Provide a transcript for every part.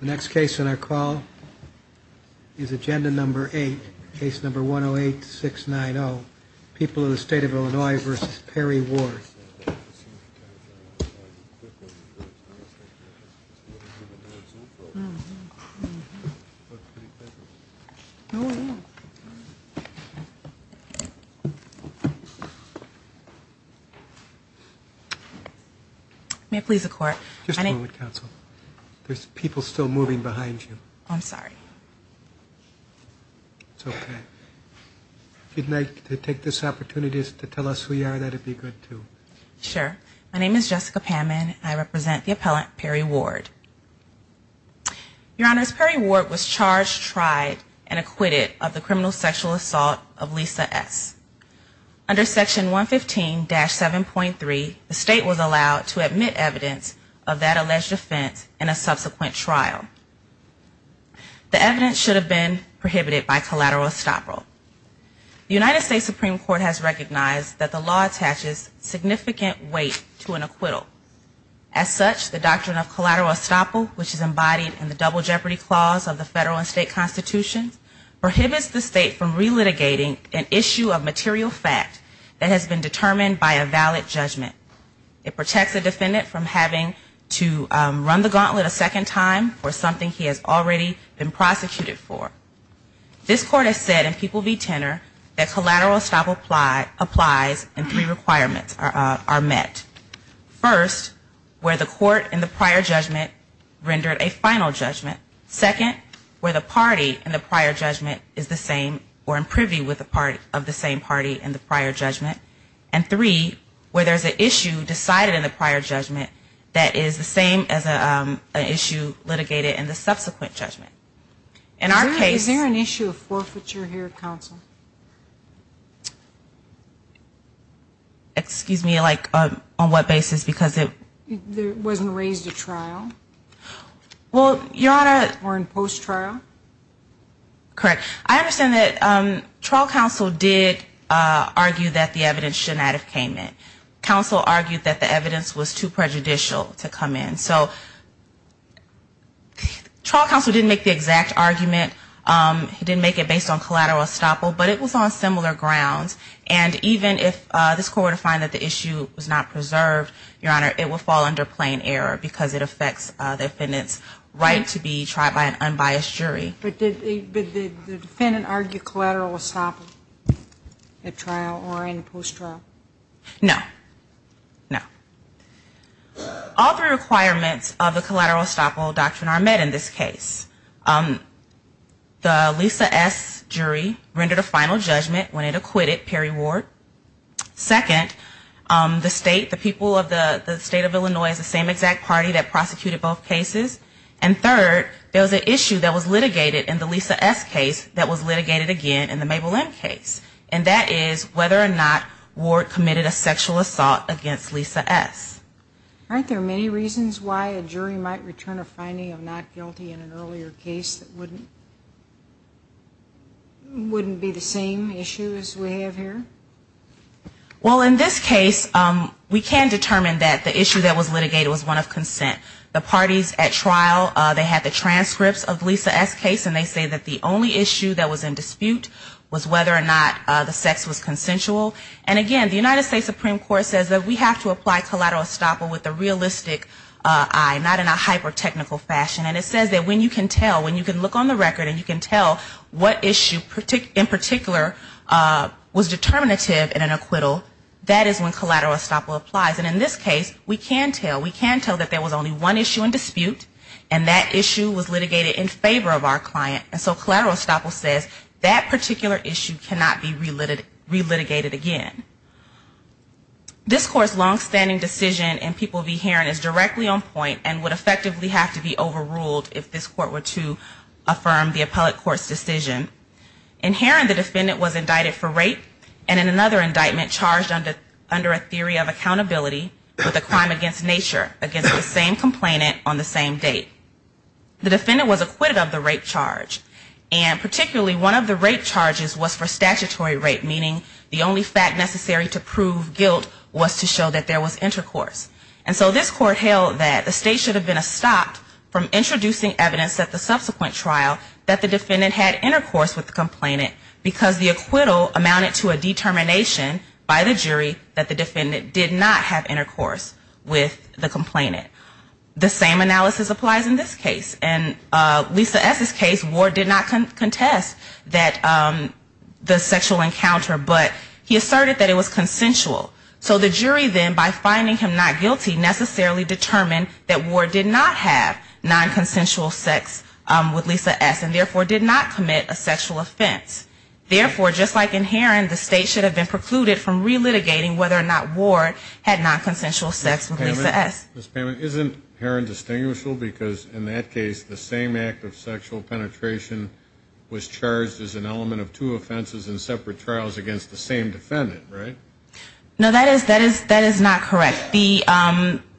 The next case on our call is agenda number 8, case number 108-690, People of the State of Illinois v. Perry Ward. May I please have a moment, counsel? There's people still moving behind you. I'm sorry. It's okay. If you'd like to take this opportunity to tell us who you are, that would be good, too. Sure. My name is Jessica Pammon. I represent the appellant, Perry Ward. Your Honors, Perry Ward was charged, tried, and acquitted of the criminal sexual assault of Lisa S. Under section 115-7.3, the state was allowed to admit evidence of that alleged offense in a subsequent trial. The evidence should have been prohibited by collateral estoppel. The United States Supreme Court has recognized that the law attaches significant weight to an acquittal. As such, the doctrine of collateral estoppel, which is embodied in the double jeopardy clause of the federal and state material fact that has been determined by a valid judgment. It protects a defendant from having to run the gauntlet a second time for something he has already been prosecuted for. This Court has said in People v. Tenor that collateral estoppel applies and three requirements are met. First, where the court in the prior judgment rendered a final judgment. Second, where the party in the prior judgment is the same or in privy of the same party in the prior judgment. And three, where there's an issue decided in the prior judgment that is the same as an issue litigated in the subsequent judgment. In our case Is there an issue of forfeiture here, Counsel? Excuse me, like on what basis? Because it wasn't raised at trial. Well, Your Honor. Or in post-trial? Correct. I understand that trial counsel did argue that the evidence should not have came in. Counsel argued that the evidence was too prejudicial to come in. So, trial counsel didn't make the exact argument. He didn't make it based on collateral estoppel. But it was on similar grounds. And even if this court were to find that the issue was not preserved, Your Honor, it would fall under plain error. Because it affects the defendant's right to be tried by an unbiased jury. But did the defendant argue collateral estoppel at trial or in post-trial? No. No. All three requirements of the collateral estoppel doctrine are met in this case. The Lisa S. jury rendered a final judgment when it acquitted Perry Ward. Second, the state, the people of the state of Illinois is the same exact party that prosecuted both cases. And third, there was an issue that was litigated in the Lisa S. case that was litigated again in the Mabel M. case. And that is whether or not Ward committed a sexual assault against Lisa S. Aren't there many reasons why a jury might return a finding of not guilty in an earlier case that wouldn't be the same issue as we have here? Well, in this case, we can determine that the issue that was litigated was one of consent. The parties at trial, they had the transcripts of the Lisa S. case and they say that the only issue that was in dispute was whether or not the sex was consensual. And again, the United States Supreme Court says that we have to apply collateral estoppel with a realistic eye, not in a hyper-technical fashion. And it says that when you can tell, when you can look on the record and you can tell what issue in particular was determinative, and an acquittal, that is when collateral estoppel applies. And in this case, we can tell, we can tell that there was only one issue in dispute and that issue was litigated in favor of our client. And so collateral estoppel says that particular issue cannot be relitigated again. This Court's longstanding decision in P.V. Heron is directly on point and would effectively have to be overruled if this Court were to affirm the indictment charged under a theory of accountability with a crime against nature against the same complainant on the same date. The defendant was acquitted of the rape charge and particularly one of the rape charges was for statutory rape, meaning the only fact necessary to prove guilt was to show that there was intercourse. And so this Court held that the state should have been stopped from introducing evidence at the subsequent trial that the defendant had intercourse with the complainant because the acquittal amounted to a determination by the jury that the defendant did not have intercourse with the complainant. The same analysis applies in this case. And Lisa S.'s case, Ward did not contest the sexual encounter, but he asserted that it was consensual. So the jury then, by finding him not guilty, necessarily determined that Ward did not have nonconsensual sex with Lisa S., and therefore did not commit a sexual offense. Therefore, just like in Heron, the state should have been precluded from relitigating whether or not Ward had nonconsensual sex with Lisa S. Ms. Pammon, isn't Heron distinguishable because in that case, the same act of sexual penetration was charged as an element of two offenses in separate trials against the same defendant, right? No, that is not correct.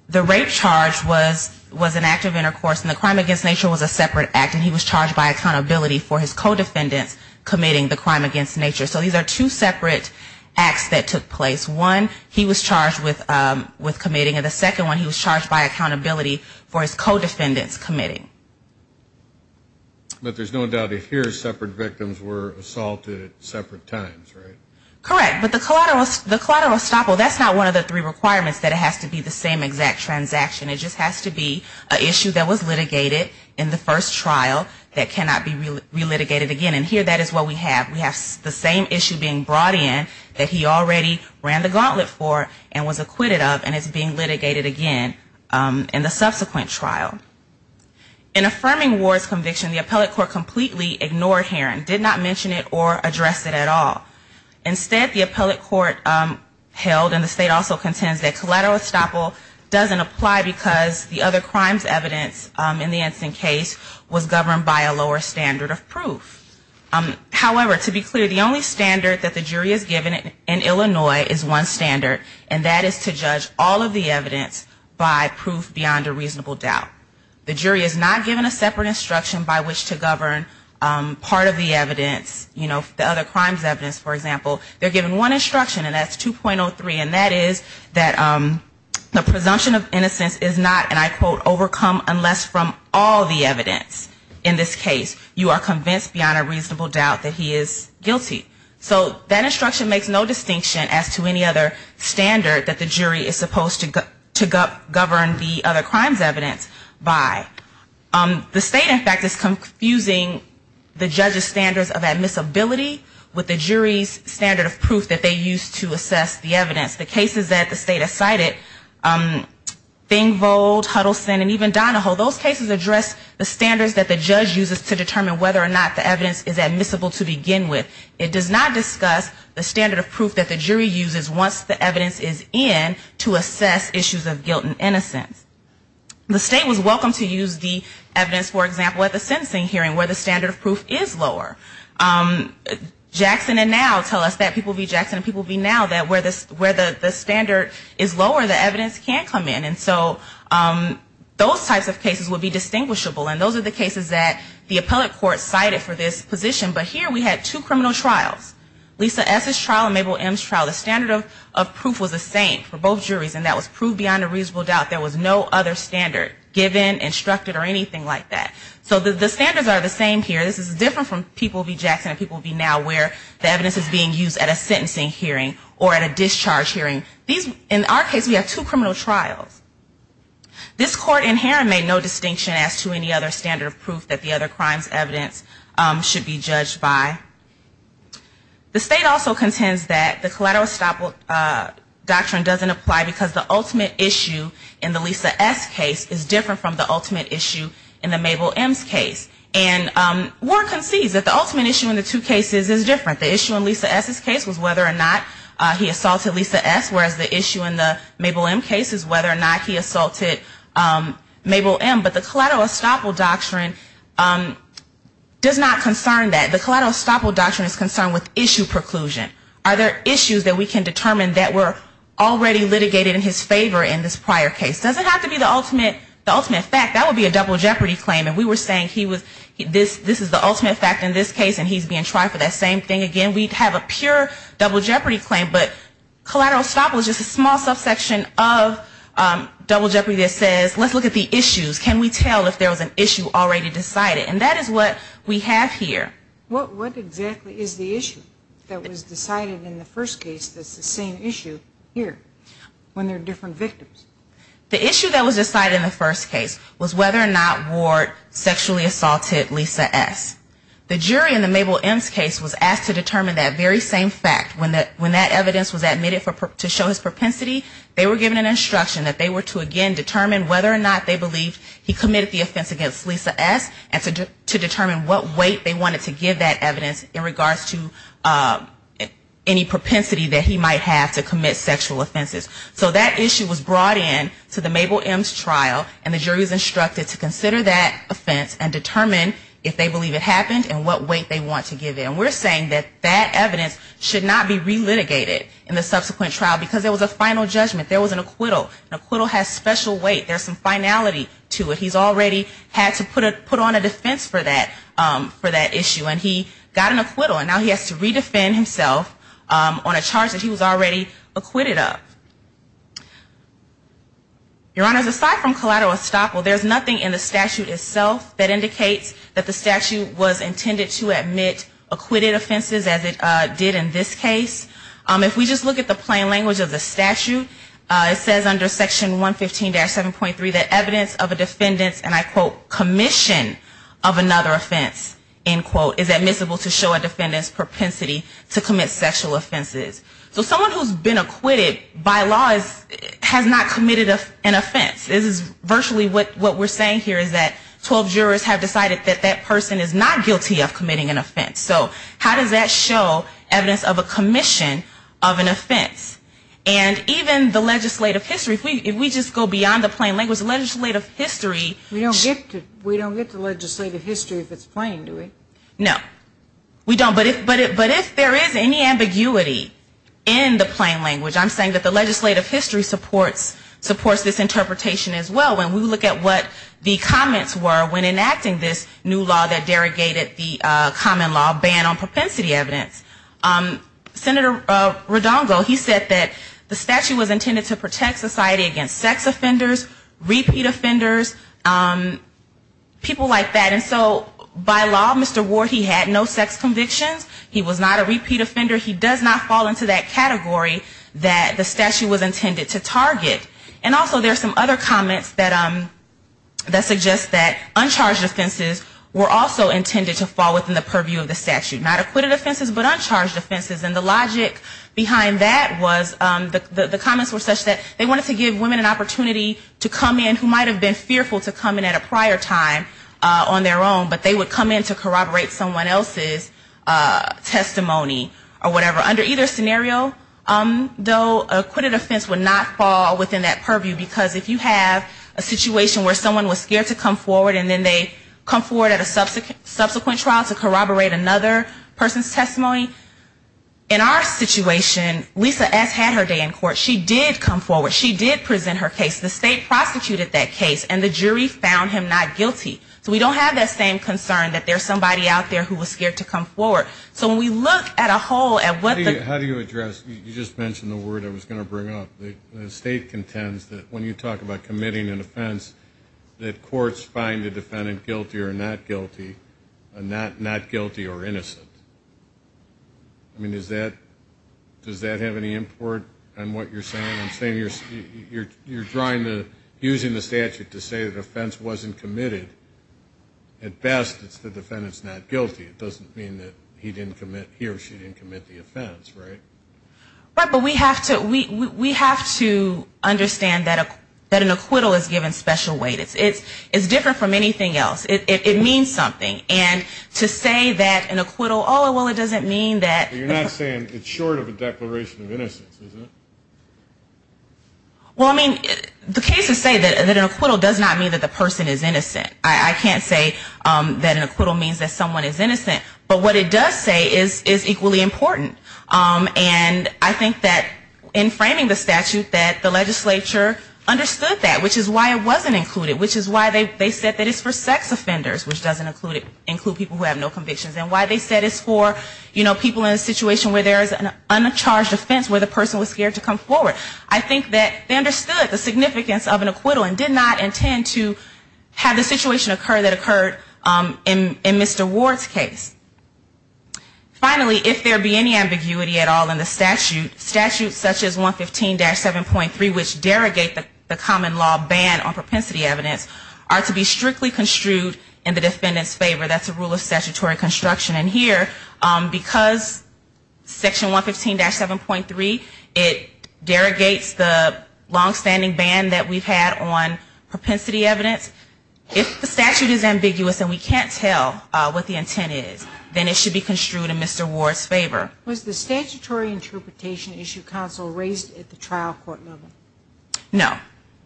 The rape charge was an act of intercourse and the crime against nature was a separate act and he was charged by a accountability for his co-defendants committing the crime against nature. So these are two separate acts that took place. One, he was charged with committing and the second one, he was charged by accountability for his co-defendants committing. But there's no doubt if here, separate victims were assaulted at separate times, right? Correct. But the collateral estoppel, that's not one of the three requirements that it has to be the same exact transaction. It just has to be an issue that was litigated in the first trial that cannot be relitigated again. And here, that is what we have. We have the same issue being brought in that he already ran the gauntlet for and was acquitted of and is being litigated again in the subsequent trial. In affirming Ward's conviction, the appellate court completely ignored Heron, did not mention it or address it at all. Instead, the appellate court held, and the state also contends, that collateral estoppel doesn't apply because the defendant was acquitted because the other crime's evidence in the Ensign case was governed by a lower standard of proof. However, to be clear, the only standard that the jury is given in Illinois is one standard, and that is to judge all of the evidence by proof beyond a reasonable doubt. The jury is not given a separate instruction by which to govern part of the evidence, you know, the other crime's evidence, for example. They're given one instruction, and that's 2.03, and that is that the presumption of innocence is not subject to a separate instruction. It is not, and I quote, overcome unless from all the evidence in this case you are convinced beyond a reasonable doubt that he is guilty. So that instruction makes no distinction as to any other standard that the jury is supposed to govern the other crime's evidence by. The state, in fact, is confusing the judge's standards of admissibility with the jury's standard of proof that they use to assess the evidence. For example, in the case of Gold, Huddleston, and even Donahoe, those cases address the standards that the judge uses to determine whether or not the evidence is admissible to begin with. It does not discuss the standard of proof that the jury uses once the evidence is in to assess issues of guilt and innocence. The state was welcome to use the evidence, for example, at the sentencing hearing where the standard of proof is lower. Jackson and now tell us that, people be Jackson and people be now, that where the standard is lower, the evidence can't come in. Those types of cases would be distinguishable, and those are the cases that the appellate court cited for this position. But here we had two criminal trials. Lisa S.'s trial and Mabel M.'s trial. The standard of proof was the same for both juries, and that was proved beyond a reasonable doubt. There was no other standard given, instructed, or anything like that. So the standards are the same here. This is different from people be Jackson and people be now, where the evidence is being used at a sentencing hearing or at a discharge hearing. In our case we have two criminal trials. This court in Heron made no distinction as to any other standard of proof that the other crimes evidence should be judged by. The state also contends that the collateral stop doctrine doesn't apply because the ultimate issue in the Lisa S. case is different from the ultimate issue in the Mabel M.'s case. And Warren concedes that the ultimate issue in the two cases is different. Whereas the issue in the Mabel M. case is whether or not he assaulted Mabel M. But the collateral stop doctrine does not concern that. The collateral stop doctrine is concerned with issue preclusion. Are there issues that we can determine that were already litigated in his favor in this prior case? Doesn't have to be the ultimate fact. That would be a double jeopardy claim. And we were saying this is the ultimate fact in this case and he's being tried for that same thing again. We'd have a pure double jeopardy claim, but collateral stop was just a small subsection of double jeopardy that says, let's look at the issues. Can we tell if there was an issue already decided? And that is what we have here. What exactly is the issue that was decided in the first case that's the same issue here when there are different victims? The issue that was decided in the first case was whether or not Ward sexually assaulted Lisa S. The jury in the Mabel M.'s case was asked to determine that very same fact when that evidence was admitted to show his propensity, they were given an instruction that they were to again determine whether or not they believed he committed the offense against Lisa S. and to determine what weight they wanted to give that evidence in regards to any propensity that he might have to commit sexual offenses. So that issue was brought in to the Mabel M.'s trial and the jury was instructed to consider that offense and determine if they believe it happened and what weight they want to give it. And we're saying that that evidence should not be relitigated in the subsequent trial because there was a final judgment. There was an acquittal. An acquittal has special weight. There's some finality to it. He's already had to put on a defense for that issue. And he got an acquittal and now he has to redefend himself on a charge that he was already acquitted of. Your Honors, aside from collateral estoppel, there's nothing in the statute itself that indicates that the statute was intended to admit acquitted offenses as it did in this case. If we just look at the plain language of the statute, it says under Section 115-7.3 that evidence of a defendant's, and I quote, commission of another offense, end quote, is admissible to show a commission of another offense. So someone who's been acquitted by law has not committed an offense. This is virtually what we're saying here is that 12 jurors have decided that that person is not guilty of committing an offense. So how does that show evidence of a commission of an offense? And even the legislative history, if we just go beyond the plain language, the legislative history We don't get to legislative history if it's plain, do we? No. We don't. But if there is any ambiguity in the plain language, I'm saying that the legislative history supports this interpretation as well when we look at what the comments were when enacting this new law that derogated the common law ban on propensity evidence. Senator Rodongo, he said that the statute was intended to protect society against sex offenders, repeat offenders, people like that. And so by law, Mr. Ward, he had no sex convictions. He was not a repeat offender. He does not fall into that category that the statute was intended to target. And also there's some other comments that suggest that uncharged offenses were also intended to fall within the purview of the statute. Not acquitted offenses, but uncharged offenses. And the logic behind that was the comments were such that they wanted to give women an opportunity to come in who might have been fearful to come in at a prior time on their own. But they would come in to corroborate someone else's testimony or whatever. Under either scenario, though, acquitted offense would not fall within that purview, because if you have a situation where someone was scared to come forward and then they come forward at a subsequent trial to corroborate another person's testimony, in our situation, Lisa S. had her day in court. She did come forward. She did present her case. The state contends that when you talk about committing an offense, that courts find the defendant guilty or not guilty, not guilty or innocent. I mean, does that have any import on what you're saying? I'm saying you're drawing the, using the statute to say the offense wasn't committed. At best, it's the defendant's not guilty. It doesn't mean that he didn't commit, he or she didn't commit the offense, right? Right. But we have to understand that an acquittal is given special weight. It's different from anything else. It means something. And to say that an acquittal, oh, well, it doesn't mean that. You're not saying it's short of a declaration of innocence, is it? Well, I mean, the cases say that an acquittal does not mean that the person is innocent. I can't say that an acquittal means that someone is innocent. But what it does say is equally important. And I think that in framing the statute, that the legislature understood that, which is why it wasn't included, which is why they said that it's for sex offenders, which doesn't include people who have no convictions, and why they said it's for, you know, people in a situation where there's an uncharged offense where the person was scared to come forward. I think that they understood the significance of an acquittal and did not intend to have the situation occur that occurred in Mr. Ward's case. Finally, if there be any ambiguity at all in the statute, statutes such as 115-7.3, which derogate the common law ban on propensity evidence, are to be strictly construed in the defendant's favor. That's a rule of statutory construction. And here, because section 115-7.3, it derogates the longstanding ban that we've had on propensity evidence, if the statute is ambiguous and we can't tell what the intent is, then it should be construed in Mr. Ward's favor. Was the statutory interpretation issue counsel raised at the trial court level? No.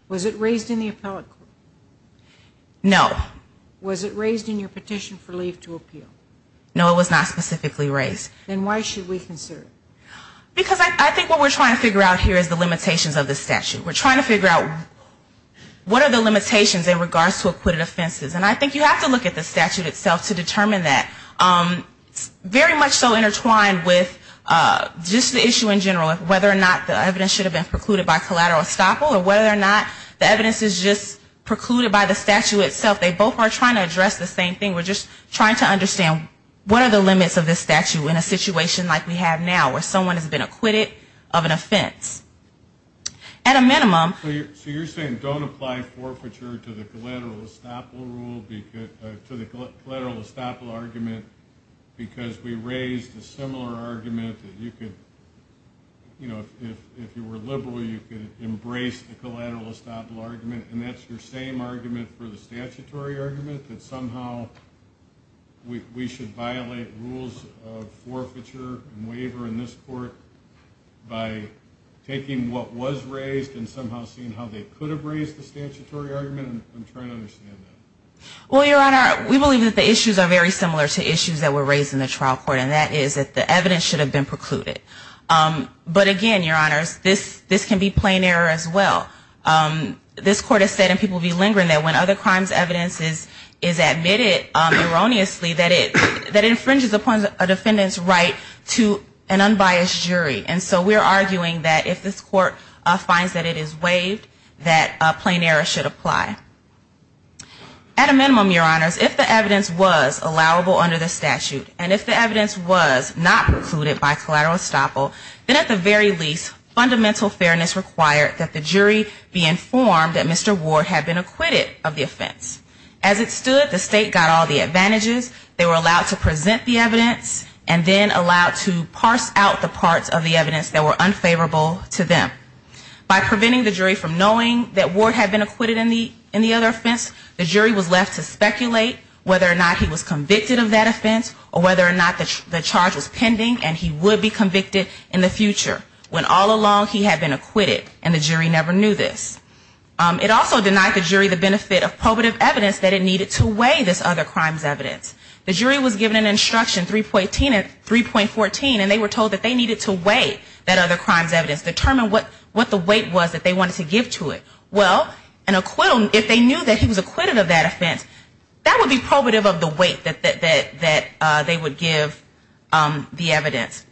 Was it raised in the appellate court? No. Was it raised in your petition for leave to appeal? No, it was not specifically raised. Then why should we consider it? Because I think what we're trying to figure out here is the limitations of the statute. We're trying to figure out what are the limitations in regards to acquitted offenses. And I think you have to look at the statute itself to determine that. It's very much so intertwined with just the statute itself. Whether or not the evidence is just precluded by the statute itself, they both are trying to address the same thing. We're just trying to understand what are the limits of this statute in a situation like we have now, where someone has been acquitted of an offense. At a minimum. So you're saying don't apply forfeiture to the collateral estoppel rule, to the collateral estoppel argument, because we raised a similar argument that you could, you know, if you were liberal, you could embrace the collateral estoppel rule. And that's your same argument for the statutory argument, that somehow we should violate rules of forfeiture and waiver in this court by taking what was raised and somehow seeing how they could have raised the statutory argument? I'm trying to understand that. Well, Your Honor, we believe that the issues are very similar to issues that were raised in the trial court, and that is that the evidence should have been precluded. But again, Your Honors, this can be plain error as well. We're trying to understand what are the limits of this statute in a situation like we have now, where someone has been acquitted of an offense, and this court has said, and people be lingering, that when other crimes evidence is admitted erroneously, that it infringes upon a defendant's right to an unbiased jury. And so we're arguing that if this court finds that it is waived, that plain error should apply. At a minimum, Your Honors, if the evidence was allowable under the statute, and if the evidence was not precluded by collateral estoppel, then at the very least, fundamental fairness required that the jury be informed that Mr. Ward had been acquitted of the offense. As it stood, the state got all the advantages. They were allowed to present the evidence and then allowed to parse out the parts of the evidence that were unfavorable to them. By preventing the jury from knowing that Ward had been acquitted in the other offense, the jury was left to speculate whether or not he was convicted of that offense or whether or not the charge was pending and he would be convicted in the future, when all along he had been acquitted and the jury never knew this. It also denied the jury the benefit of probative evidence that it needed to weigh this other crime's evidence. The jury was given an instruction, 3.14, and they were told that they needed to weigh that other crime's evidence, determine what the weight was that they wanted to give to it. Well, an acquittal, if they knew that he was acquitted of that offense, that would be probative of the weight that they would give the evidence.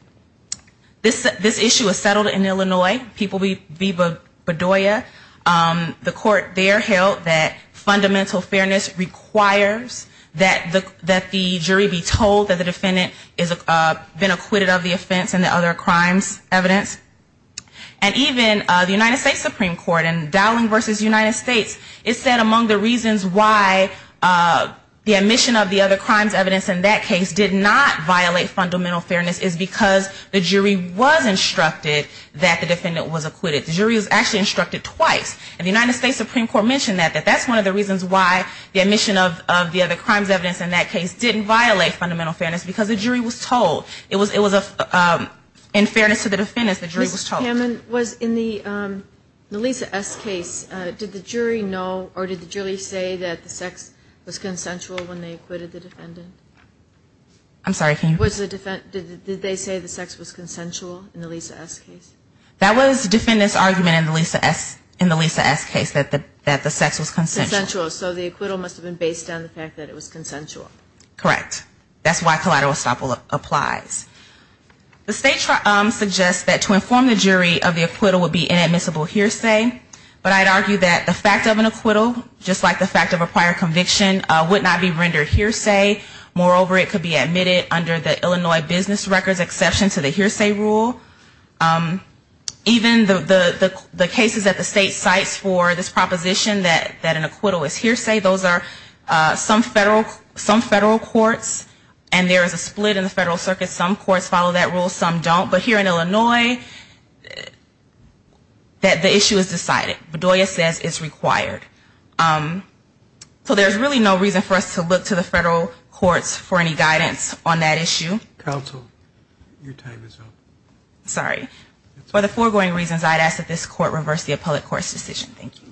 This issue was settled in Illinois, People v. Bedoya. The court there held that fundamental fairness requires that the jury be told that the defendant has been acquitted of the offense and the other crime's evidence. And even the United States Supreme Court in Dowling v. United States, it said among the reasons why the admission of the other crime's evidence in that case did not apply to the defendant, did not violate fundamental fairness, is because the jury was instructed that the defendant was acquitted. The jury was actually instructed twice. And the United States Supreme Court mentioned that, that that's one of the reasons why the admission of the other crime's evidence in that case didn't violate fundamental fairness, because the jury was told. It was in fairness to the defendants, the jury was told. Ms. Hammond, was in the Melissa S. case, did the jury know or did the jury say that the sex was consensual when they acquitted the defendant? I'm sorry, can you? Did they say the sex was consensual in the Lisa S. case? That was the defendant's argument in the Lisa S. case, that the sex was consensual. Consensual. So the acquittal must have been based on the fact that it was consensual. Correct. That's why collateral estoppel applies. The state suggests that to inform the jury of the acquittal would be inadmissible under hearsay. Moreover, it could be admitted under the Illinois business records exception to the hearsay rule. Even the cases that the state cites for this proposition that an acquittal is hearsay, those are some federal courts, and there is a split in the federal circuit. Some courts follow that rule, some don't. But here in Illinois, that the issue is decided. Bedoya says it's required. I would ask the federal courts for any guidance on that issue. Counsel, your time is up. Sorry. For the foregoing reasons, I would ask that this court reverse the appellate court's decision. Thank you.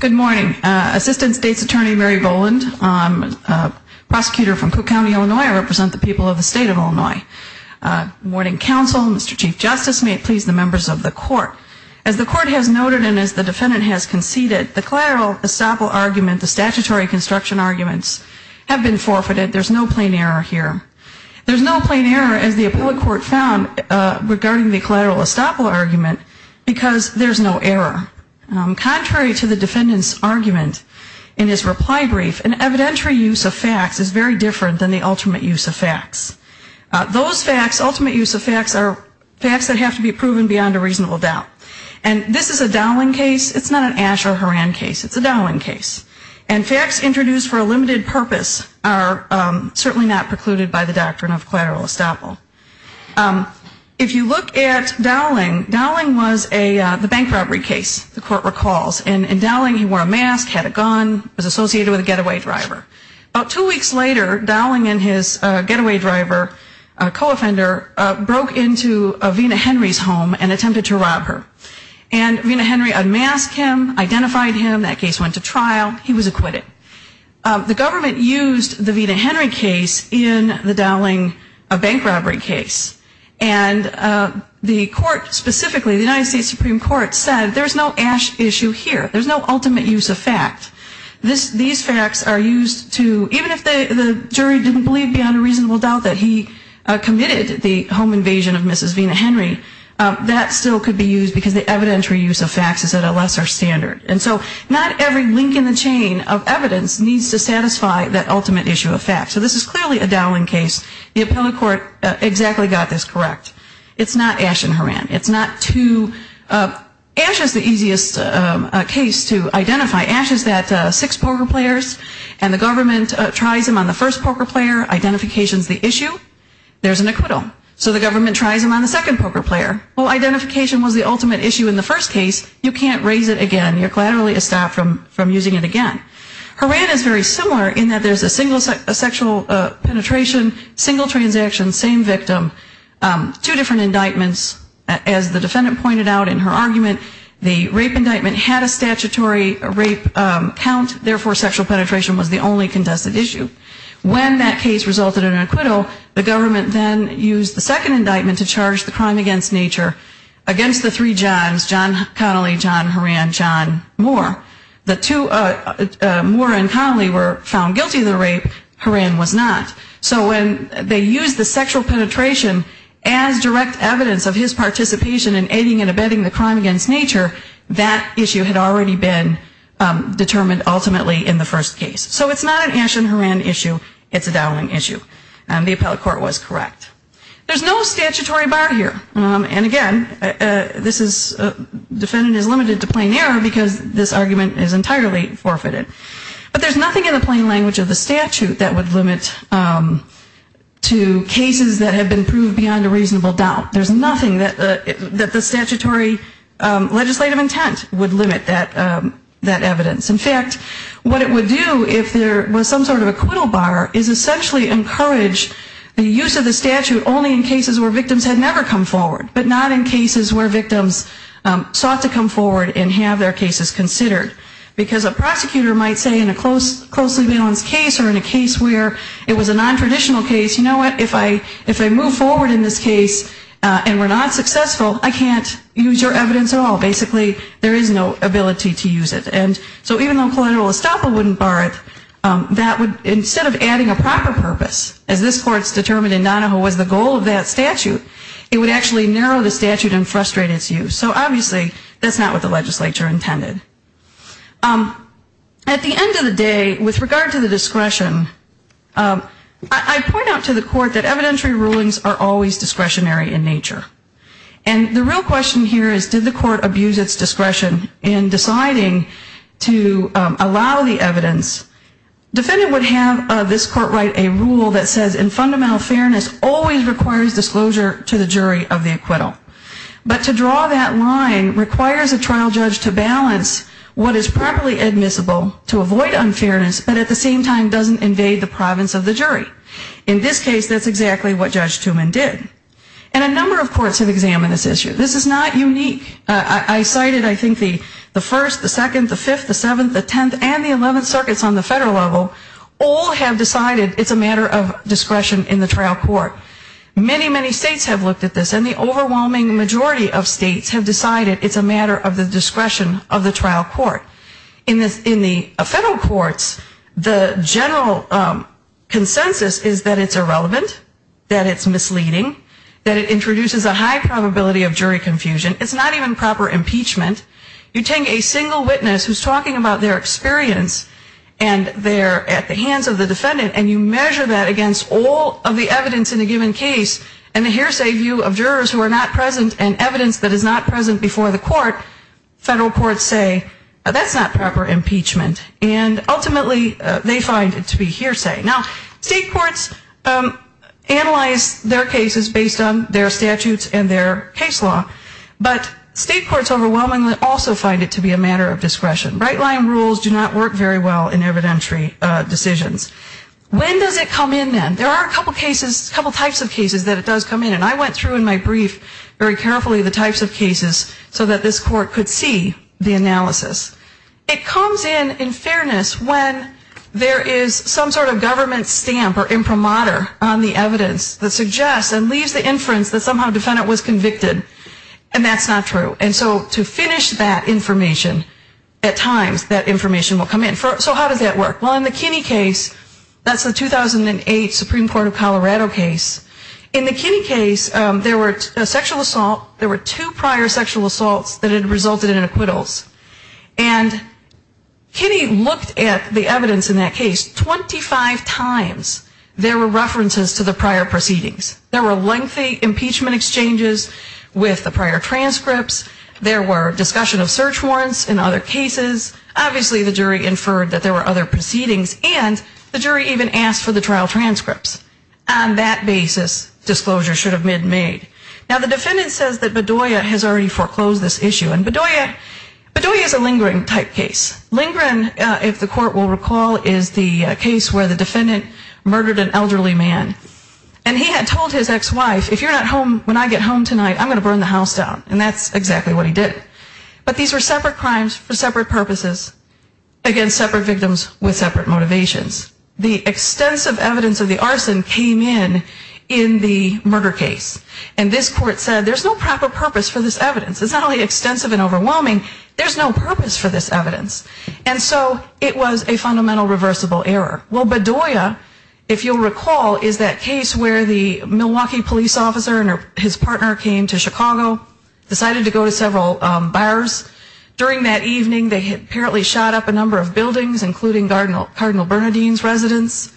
Good morning. Assistant State's Attorney Mary Boland. I'm a prosecutor from Cook County, Illinois. I represent the people of the state of Illinois, and I'm here to report. As the court has noted and as the defendant has conceded, the collateral estoppel argument, the statutory construction arguments, have been forfeited. There's no plain error here. There's no plain error, as the appellate court found, regarding the collateral estoppel argument, because there's no error. Contrary to the defendant's argument in his reply brief, an evidentiary use of facts is very different than the ultimate use of facts. Those facts, ultimate use of facts, are facts that have to be proven beyond a reasonable doubt. And this is a Dowling case. It's not an Asher-Horan case. It's a Dowling case. And facts introduced for a limited purpose are certainly not precluded by the doctrine of collateral estoppel. If you look at Dowling, Dowling was a, the bank robbery case, the court recalls. And Dowling, he wore a mask, had a gun, was a cop, was a cop. And six weeks later, Dowling and his getaway driver, co-offender, broke into Vena Henry's home and attempted to rob her. And Vena Henry unmasked him, identified him. That case went to trial. He was acquitted. The government used the Vena Henry case in the Dowling bank robbery case. And the court specifically, the United States Supreme Court, said there's no ash issue here. There's no ultimate use of fact. These facts are used to, even if they are used to prove that the jury didn't believe beyond a reasonable doubt that he committed the home invasion of Mrs. Vena Henry, that still could be used because the evidentiary use of facts is at a lesser standard. And so not every link in the chain of evidence needs to satisfy that ultimate issue of fact. So this is clearly a Dowling case. The appellate court exactly got this correct. It's not Asher-Horan. It's not two, ash is the easiest case to identify. Ash is that six poker players, and the government tries them on a first poker player. Identification is the issue. There's an acquittal. So the government tries them on the second poker player. Well, identification was the ultimate issue in the first case. You can't raise it again. You're collaterally estopped from using it again. Horan is very similar in that there's a single sexual penetration, single transaction, same victim, two different indictments. As the defendant pointed out in her argument, the rape indictment had a statutory rape count. Therefore, sexual penetration was the only contested issue. When that case resulted in an acquittal, the government then used the second indictment to charge the crime against nature against the three Johns, John Connolly, John Horan, John Moore. The two, Moore and Connolly were found guilty of the rape. Horan was not. So when they used the sexual penetration as direct evidence of his participation in aiding and abetting the crime against nature, that issue had already been determined ultimately in the first case. So it's not an Ashton Horan issue. It's a Dowling issue. And the appellate court was correct. There's no statutory bar here. And again, this is, defendant is limited to plain error because this argument is entirely forfeited. But there's nothing in the plain language of the statute that would limit to cases that have been proved beyond a reasonable doubt. There's nothing that the statutory legislative intent would limit that evidence. In fact, what it would do if there was some sort of acquittal bar is essentially encourage the use of the statute only in cases where victims had never come forward, but not in cases where victims sought to come forward and have their cases considered. Because a prosecutor might say in a closely balanced case or in a case where it was a nontraditional case, you know what, if I move forward in this case and we're not successful, I can't use your evidence at all. Basically, there is no ability to use it. And so even though collateral estoppel wouldn't bar it, that would, instead of adding a proper purpose, as this court's determined in Donahoe was the goal of that statute, it would actually narrow the statute and frustrate its use. So obviously, that's not what the legislature intended. At the end of the day, with regard to the discretion, I point out to the court that evidentiary rulings are always discretionary in nature. And the real question here is, did the court abuse its discretion in deciding whether or not to allow the evidence? Defendant would have this court write a rule that says in fundamental fairness, always requires disclosure to the jury of the acquittal. But to draw that line requires a trial judge to balance what is properly admissible to avoid unfairness, but at the same time doesn't invade the province of the jury. In this case, that's exactly what Judge Tuman did. And a number of courts have examined this issue. This is not unique. I cited, I think, the first, the second, the third, the fifth, the seventh, the tenth, and the eleventh circuits on the federal level, all have decided it's a matter of discretion in the trial court. Many, many states have looked at this, and the overwhelming majority of states have decided it's a matter of the discretion of the trial court. In the federal courts, the general consensus is that it's irrelevant, that it's misleading, that it introduces a high probability of jury confusion. It's not even proper impeachment. You take a single witness who's talking about their experience, and they're at the hands of the defendant, and you measure that against all of the evidence in a given case, and a hearsay view of jurors who are not present, and evidence that is not present before the court, federal courts say that's not proper impeachment. And ultimately, they find it to be hearsay. Now, state courts analyze their cases based on their statutes and their case law. But state courts overwhelmingly also find it to be a matter of discretion. Right-line rules do not work very well in evidentiary decisions. When does it come in, then? There are a couple cases, a couple types of cases that it does come in. And I went through in my brief very carefully the types of cases so that this court could see the analysis. It comes in, in fairness, when there is some sort of government stamp or imprimatur on the evidence that suggests and leaves the inference that somehow the defendant was guilty of a crime. And if there is some sort of information, at times that information will come in. So how does that work? Well, in the Kinney case, that's the 2008 Supreme Court of Colorado case. In the Kinney case, there were sexual assault, there were two prior sexual assaults that had resulted in acquittals. And Kinney looked at the evidence in that case 25 times. There were references to the prior proceedings. There were lengthy impeachment exchanges with the prior transcripts. There were statements in other cases. Obviously, the jury inferred that there were other proceedings. And the jury even asked for the trial transcripts. On that basis, disclosure should have been made. Now, the defendant says that Bedoya has already foreclosed this issue. And Bedoya is a lingering type case. Lingering, if the court will recall, is the case where the defendant murdered an elderly man. And he had told his ex-wife, if you're not home when I get home tonight, I'm going to burn the house down. And that's exactly what he did. But these were separate crimes for separate purposes against separate victims with separate motivations. The extensive evidence of the arson came in in the murder case. And this court said there's no proper purpose for this evidence. It's not only extensive and overwhelming, there's no purpose for this evidence. And so it was a fundamental reversible error. Well, Bedoya, if you'll recall, is that case where the Milwaukee police officer and his partner came to Chicago, decided to go to several bars. During that evening, they apparently shot up a number of buildings, including Cardinal Bernadine's residence.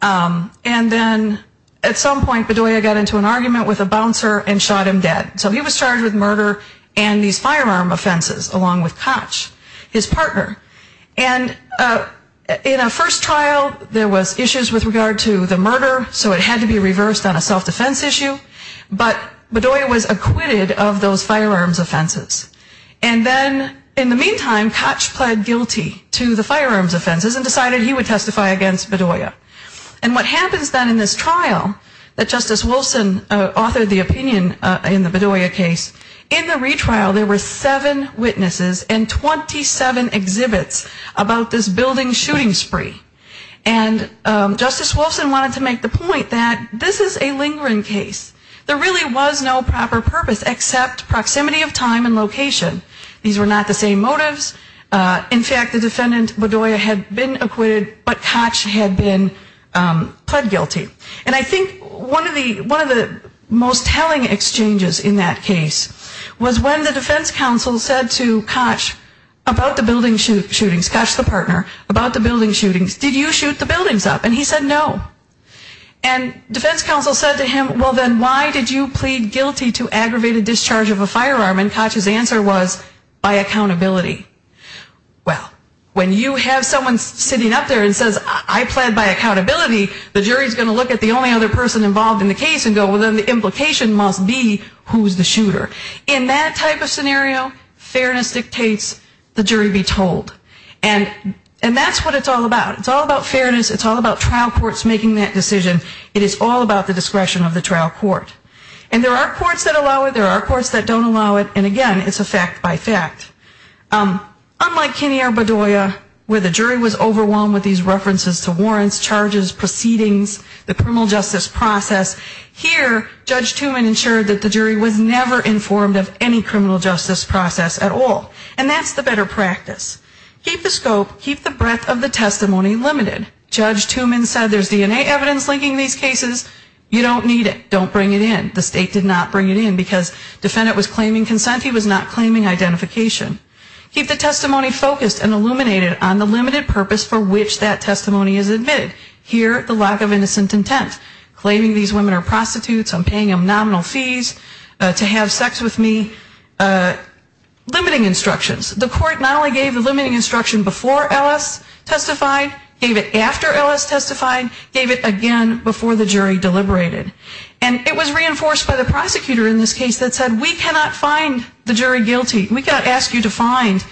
And then at some point, Bedoya got into an argument with a bouncer and shot him dead. So he was charged with murder and these firearm offenses along with Koch, his partner. And in a first trial, there was issues with regard to the murder, so it had to be reversed on a self-defense issue. But Bedoya was acquitted of those firearms offenses. And then in the meantime, Koch pled guilty to the firearms offenses and decided he would testify against Bedoya. And what happens then in this trial that Justice Wolfson authored the opinion in the Bedoya case, in the retrial, there were seven witnesses and 27 exhibits about this building shooting spree. And Justice Wolfson wanted to make the point that this is a lingering case. There really was no proper purpose except proximity of time and location. These were not the same motives. In fact, the defendant, Bedoya, had been acquitted, but Koch had been pled guilty. And I think one of the most telling exchanges in that case was when the defense counsel said to Koch about the building shootings, Koch the partner, about the building shootings, and he said no. And defense counsel said to him, well, then why did you plead guilty to aggravated discharge of a firearm? And Koch's answer was, by accountability. Well, when you have someone sitting up there and says, I pled by accountability, the jury is going to look at the only other person involved in the case and go, well, then the implication must be who is the shooter. In that type of scenario, fairness dictates the jury be told. And that's what it's all about. It's all about fairness. It's all about accountability. It's all about trial courts making that decision. It is all about the discretion of the trial court. And there are courts that allow it. There are courts that don't allow it. And again, it's a fact by fact. Unlike Kinnear, Bedoya, where the jury was overwhelmed with these references to warrants, charges, proceedings, the criminal justice process, here Judge Tuman ensured that the jury was never informed of any criminal justice process at all. And that's the better practice. Keep the scope, keep the breadth of the testimony limited. Judge Tuman said there's DNA evidence linking these cases. You don't need it. Don't bring it in. The state did not bring it in because defendant was claiming consent. He was not claiming identification. Keep the testimony focused and illuminated on the limited purpose for which that testimony is admitted. Here, the lack of innocent intent, claiming these women are prostitutes, I'm paying them nominal fees to have sex with me, limiting instructions. The court not only gave the limiting instruction before Ellis testified, gave it after Ellis testified, gave it again before the jury deliberated. And it was reinforced by the prosecutor in this case that said we cannot find the jury guilty. We can't ask you to find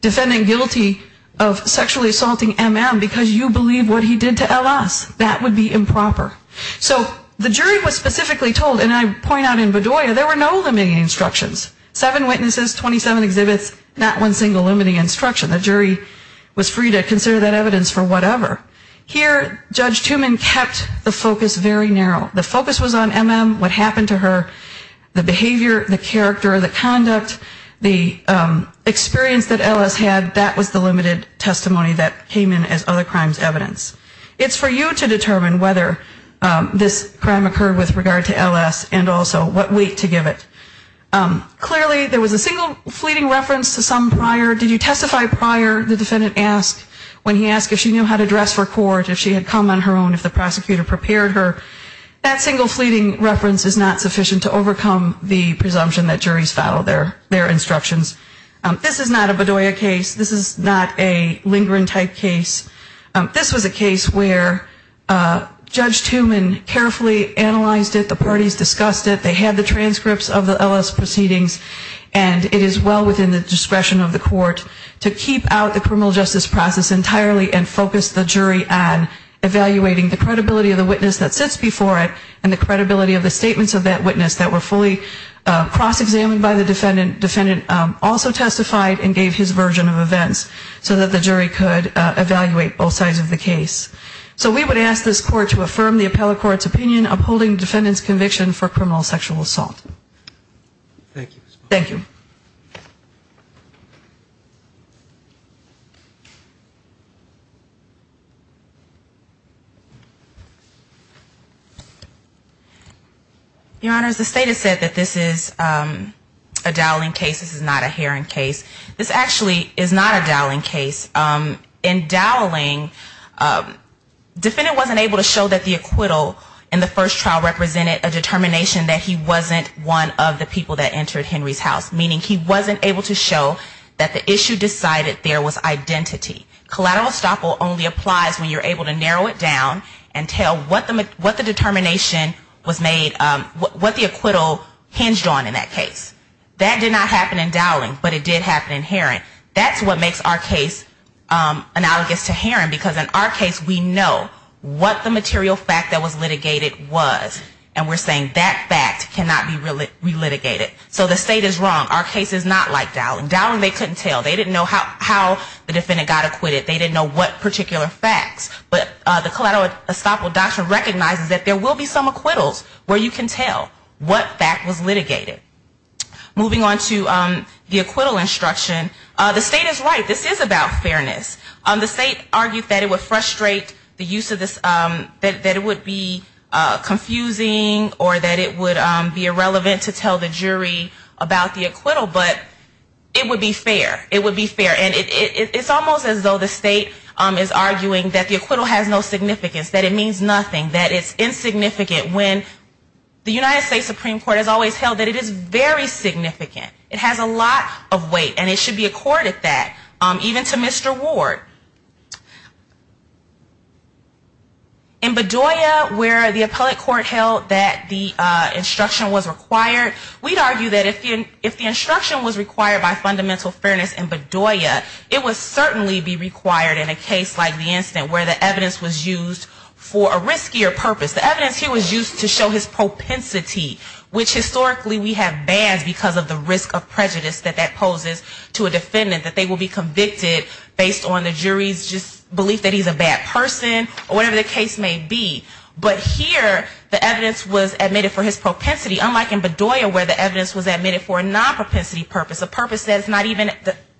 defendant guilty of sexually assaulting M.M. because you believe what he did to Ellis. That would be improper. So the jury was specifically told, and I point out in Bedoya, there were no limiting instructions. Seven witnesses, 27 exhibits, not one single limiting instruction. The jury was free to consider that evidence for whatever. Here, Judge Tuman kept the focus very narrow. The focus was on M.M., what happened to her, the behavior, the character, the conduct, the experience that Ellis had. That was the limited testimony that came in as other crimes evidence. It's for you to determine whether this crime occurred with regard to Ellis and also what weight to give it. Clearly, there was a single fleeting reference to some prior, did you testify prior, the defendant asked when he asked if she knew how to dress for court, if she had come on her own, if the prosecutor prepared her. That single fleeting reference is not sufficient to overcome the presumption that juries follow their instructions. This is not a Bedoya case. This is not a Lindgren type case. This was a case where Judge Tuman carefully analyzed it. The parties discussed it. They had the transcripts of the Ellis presumption. They had the evidence. They had the evidence. They had the proceedings. And it is well within the discretion of the court to keep out the criminal justice process entirely and focus the jury on evaluating the credibility of the witness that sits before it and the credibility of the statements of that witness that were fully cross-examined by the defendant. The defendant also testified and gave his version of events so that the jury could evaluate both sides of the case. So we would ask this court to affirm the appellate court's opinion upholding the defendant's conviction for criminal sexual assault. Thank you. Your Honors, the State has said that this is a Dowling case. This is not a Herron case. This actually is not a Dowling case. In Dowling, defendant wasn't able to show that the acquittal in the first trial represented a determination that he wasn't one of the people that entered Henry's house, meaning he wasn't able to show that the issue decided there was identity. Collateral estoppel only applies when you're able to narrow it down and tell what the determination was made, what the acquittal hinged on in that case. That did not happen in Dowling, but it did happen in Herron. That's what makes our case analogous to Herron, because in our case, the defendant was acquitted, but in Dowling's case, we know what the material fact that was litigated was, and we're saying that fact cannot be relitigated. So the State is wrong. Our case is not like Dowling. Dowling, they couldn't tell. They didn't know how the defendant got acquitted. They didn't know what particular facts. But the collateral estoppel doctrine recognizes that there will be some acquittals where you can tell what fact was litigated. Moving on to the acquittal instruction, the State is right. This is about fairness. The State argued that it would frustrate the use of this, that it would be confusing or that it would be irrelevant to tell the jury about the acquittal, but it would be fair. It would be fair. And it's almost as though the State is arguing that the acquittal has no significance, that it means nothing, that it's insignificant, when the United States Supreme Court has always held that it is very significant. It has a lot of weight, and it should be accorded that, even to Mr. Ward. In Bedoya, where the appellate court held that the instruction was required, we'd argue that if the instruction was required by fundamental fairness in Bedoya, it would certainly be required in a case like the incident where the evidence was used for a riskier purpose. The evidence here was used to show his propensity, which historically we have bans because of the risk of prejudice that that poses to a defendant, that they will be convicted based on the jury's just belief that he's a bad person. Or whatever the case may be. But here the evidence was admitted for his propensity, unlike in Bedoya where the evidence was admitted for a non-propensity purpose, a purpose that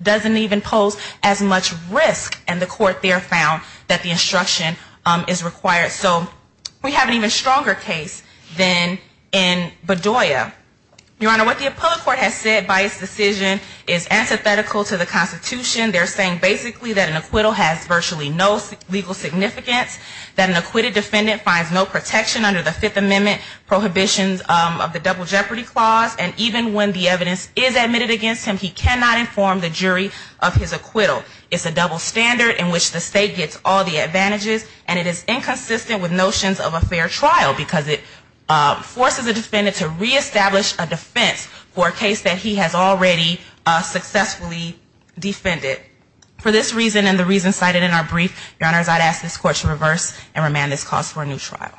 doesn't even pose as much risk in the court there found that the instruction is required. So we have an even stronger case than in Bedoya. Your Honor, what the appellate court has said by its decision is antithetical to the Constitution. They're saying basically that an acquittal has virtually no legal significance, that an acquitted defendant finds no protection under the Fifth Amendment prohibitions of the Double Jeopardy Clause, and even when the evidence is admitted against him, he cannot inform the jury of his acquittal. It's a double standard in which the state gets all the advantages, and it is inconsistent with notions of a fair trial because it forces a defendant to reestablish a defense for a case that he has already successfully defended. For this reason and the reasons cited in our brief, Your Honor, I'd ask this court to reverse and remand this clause for a new trial.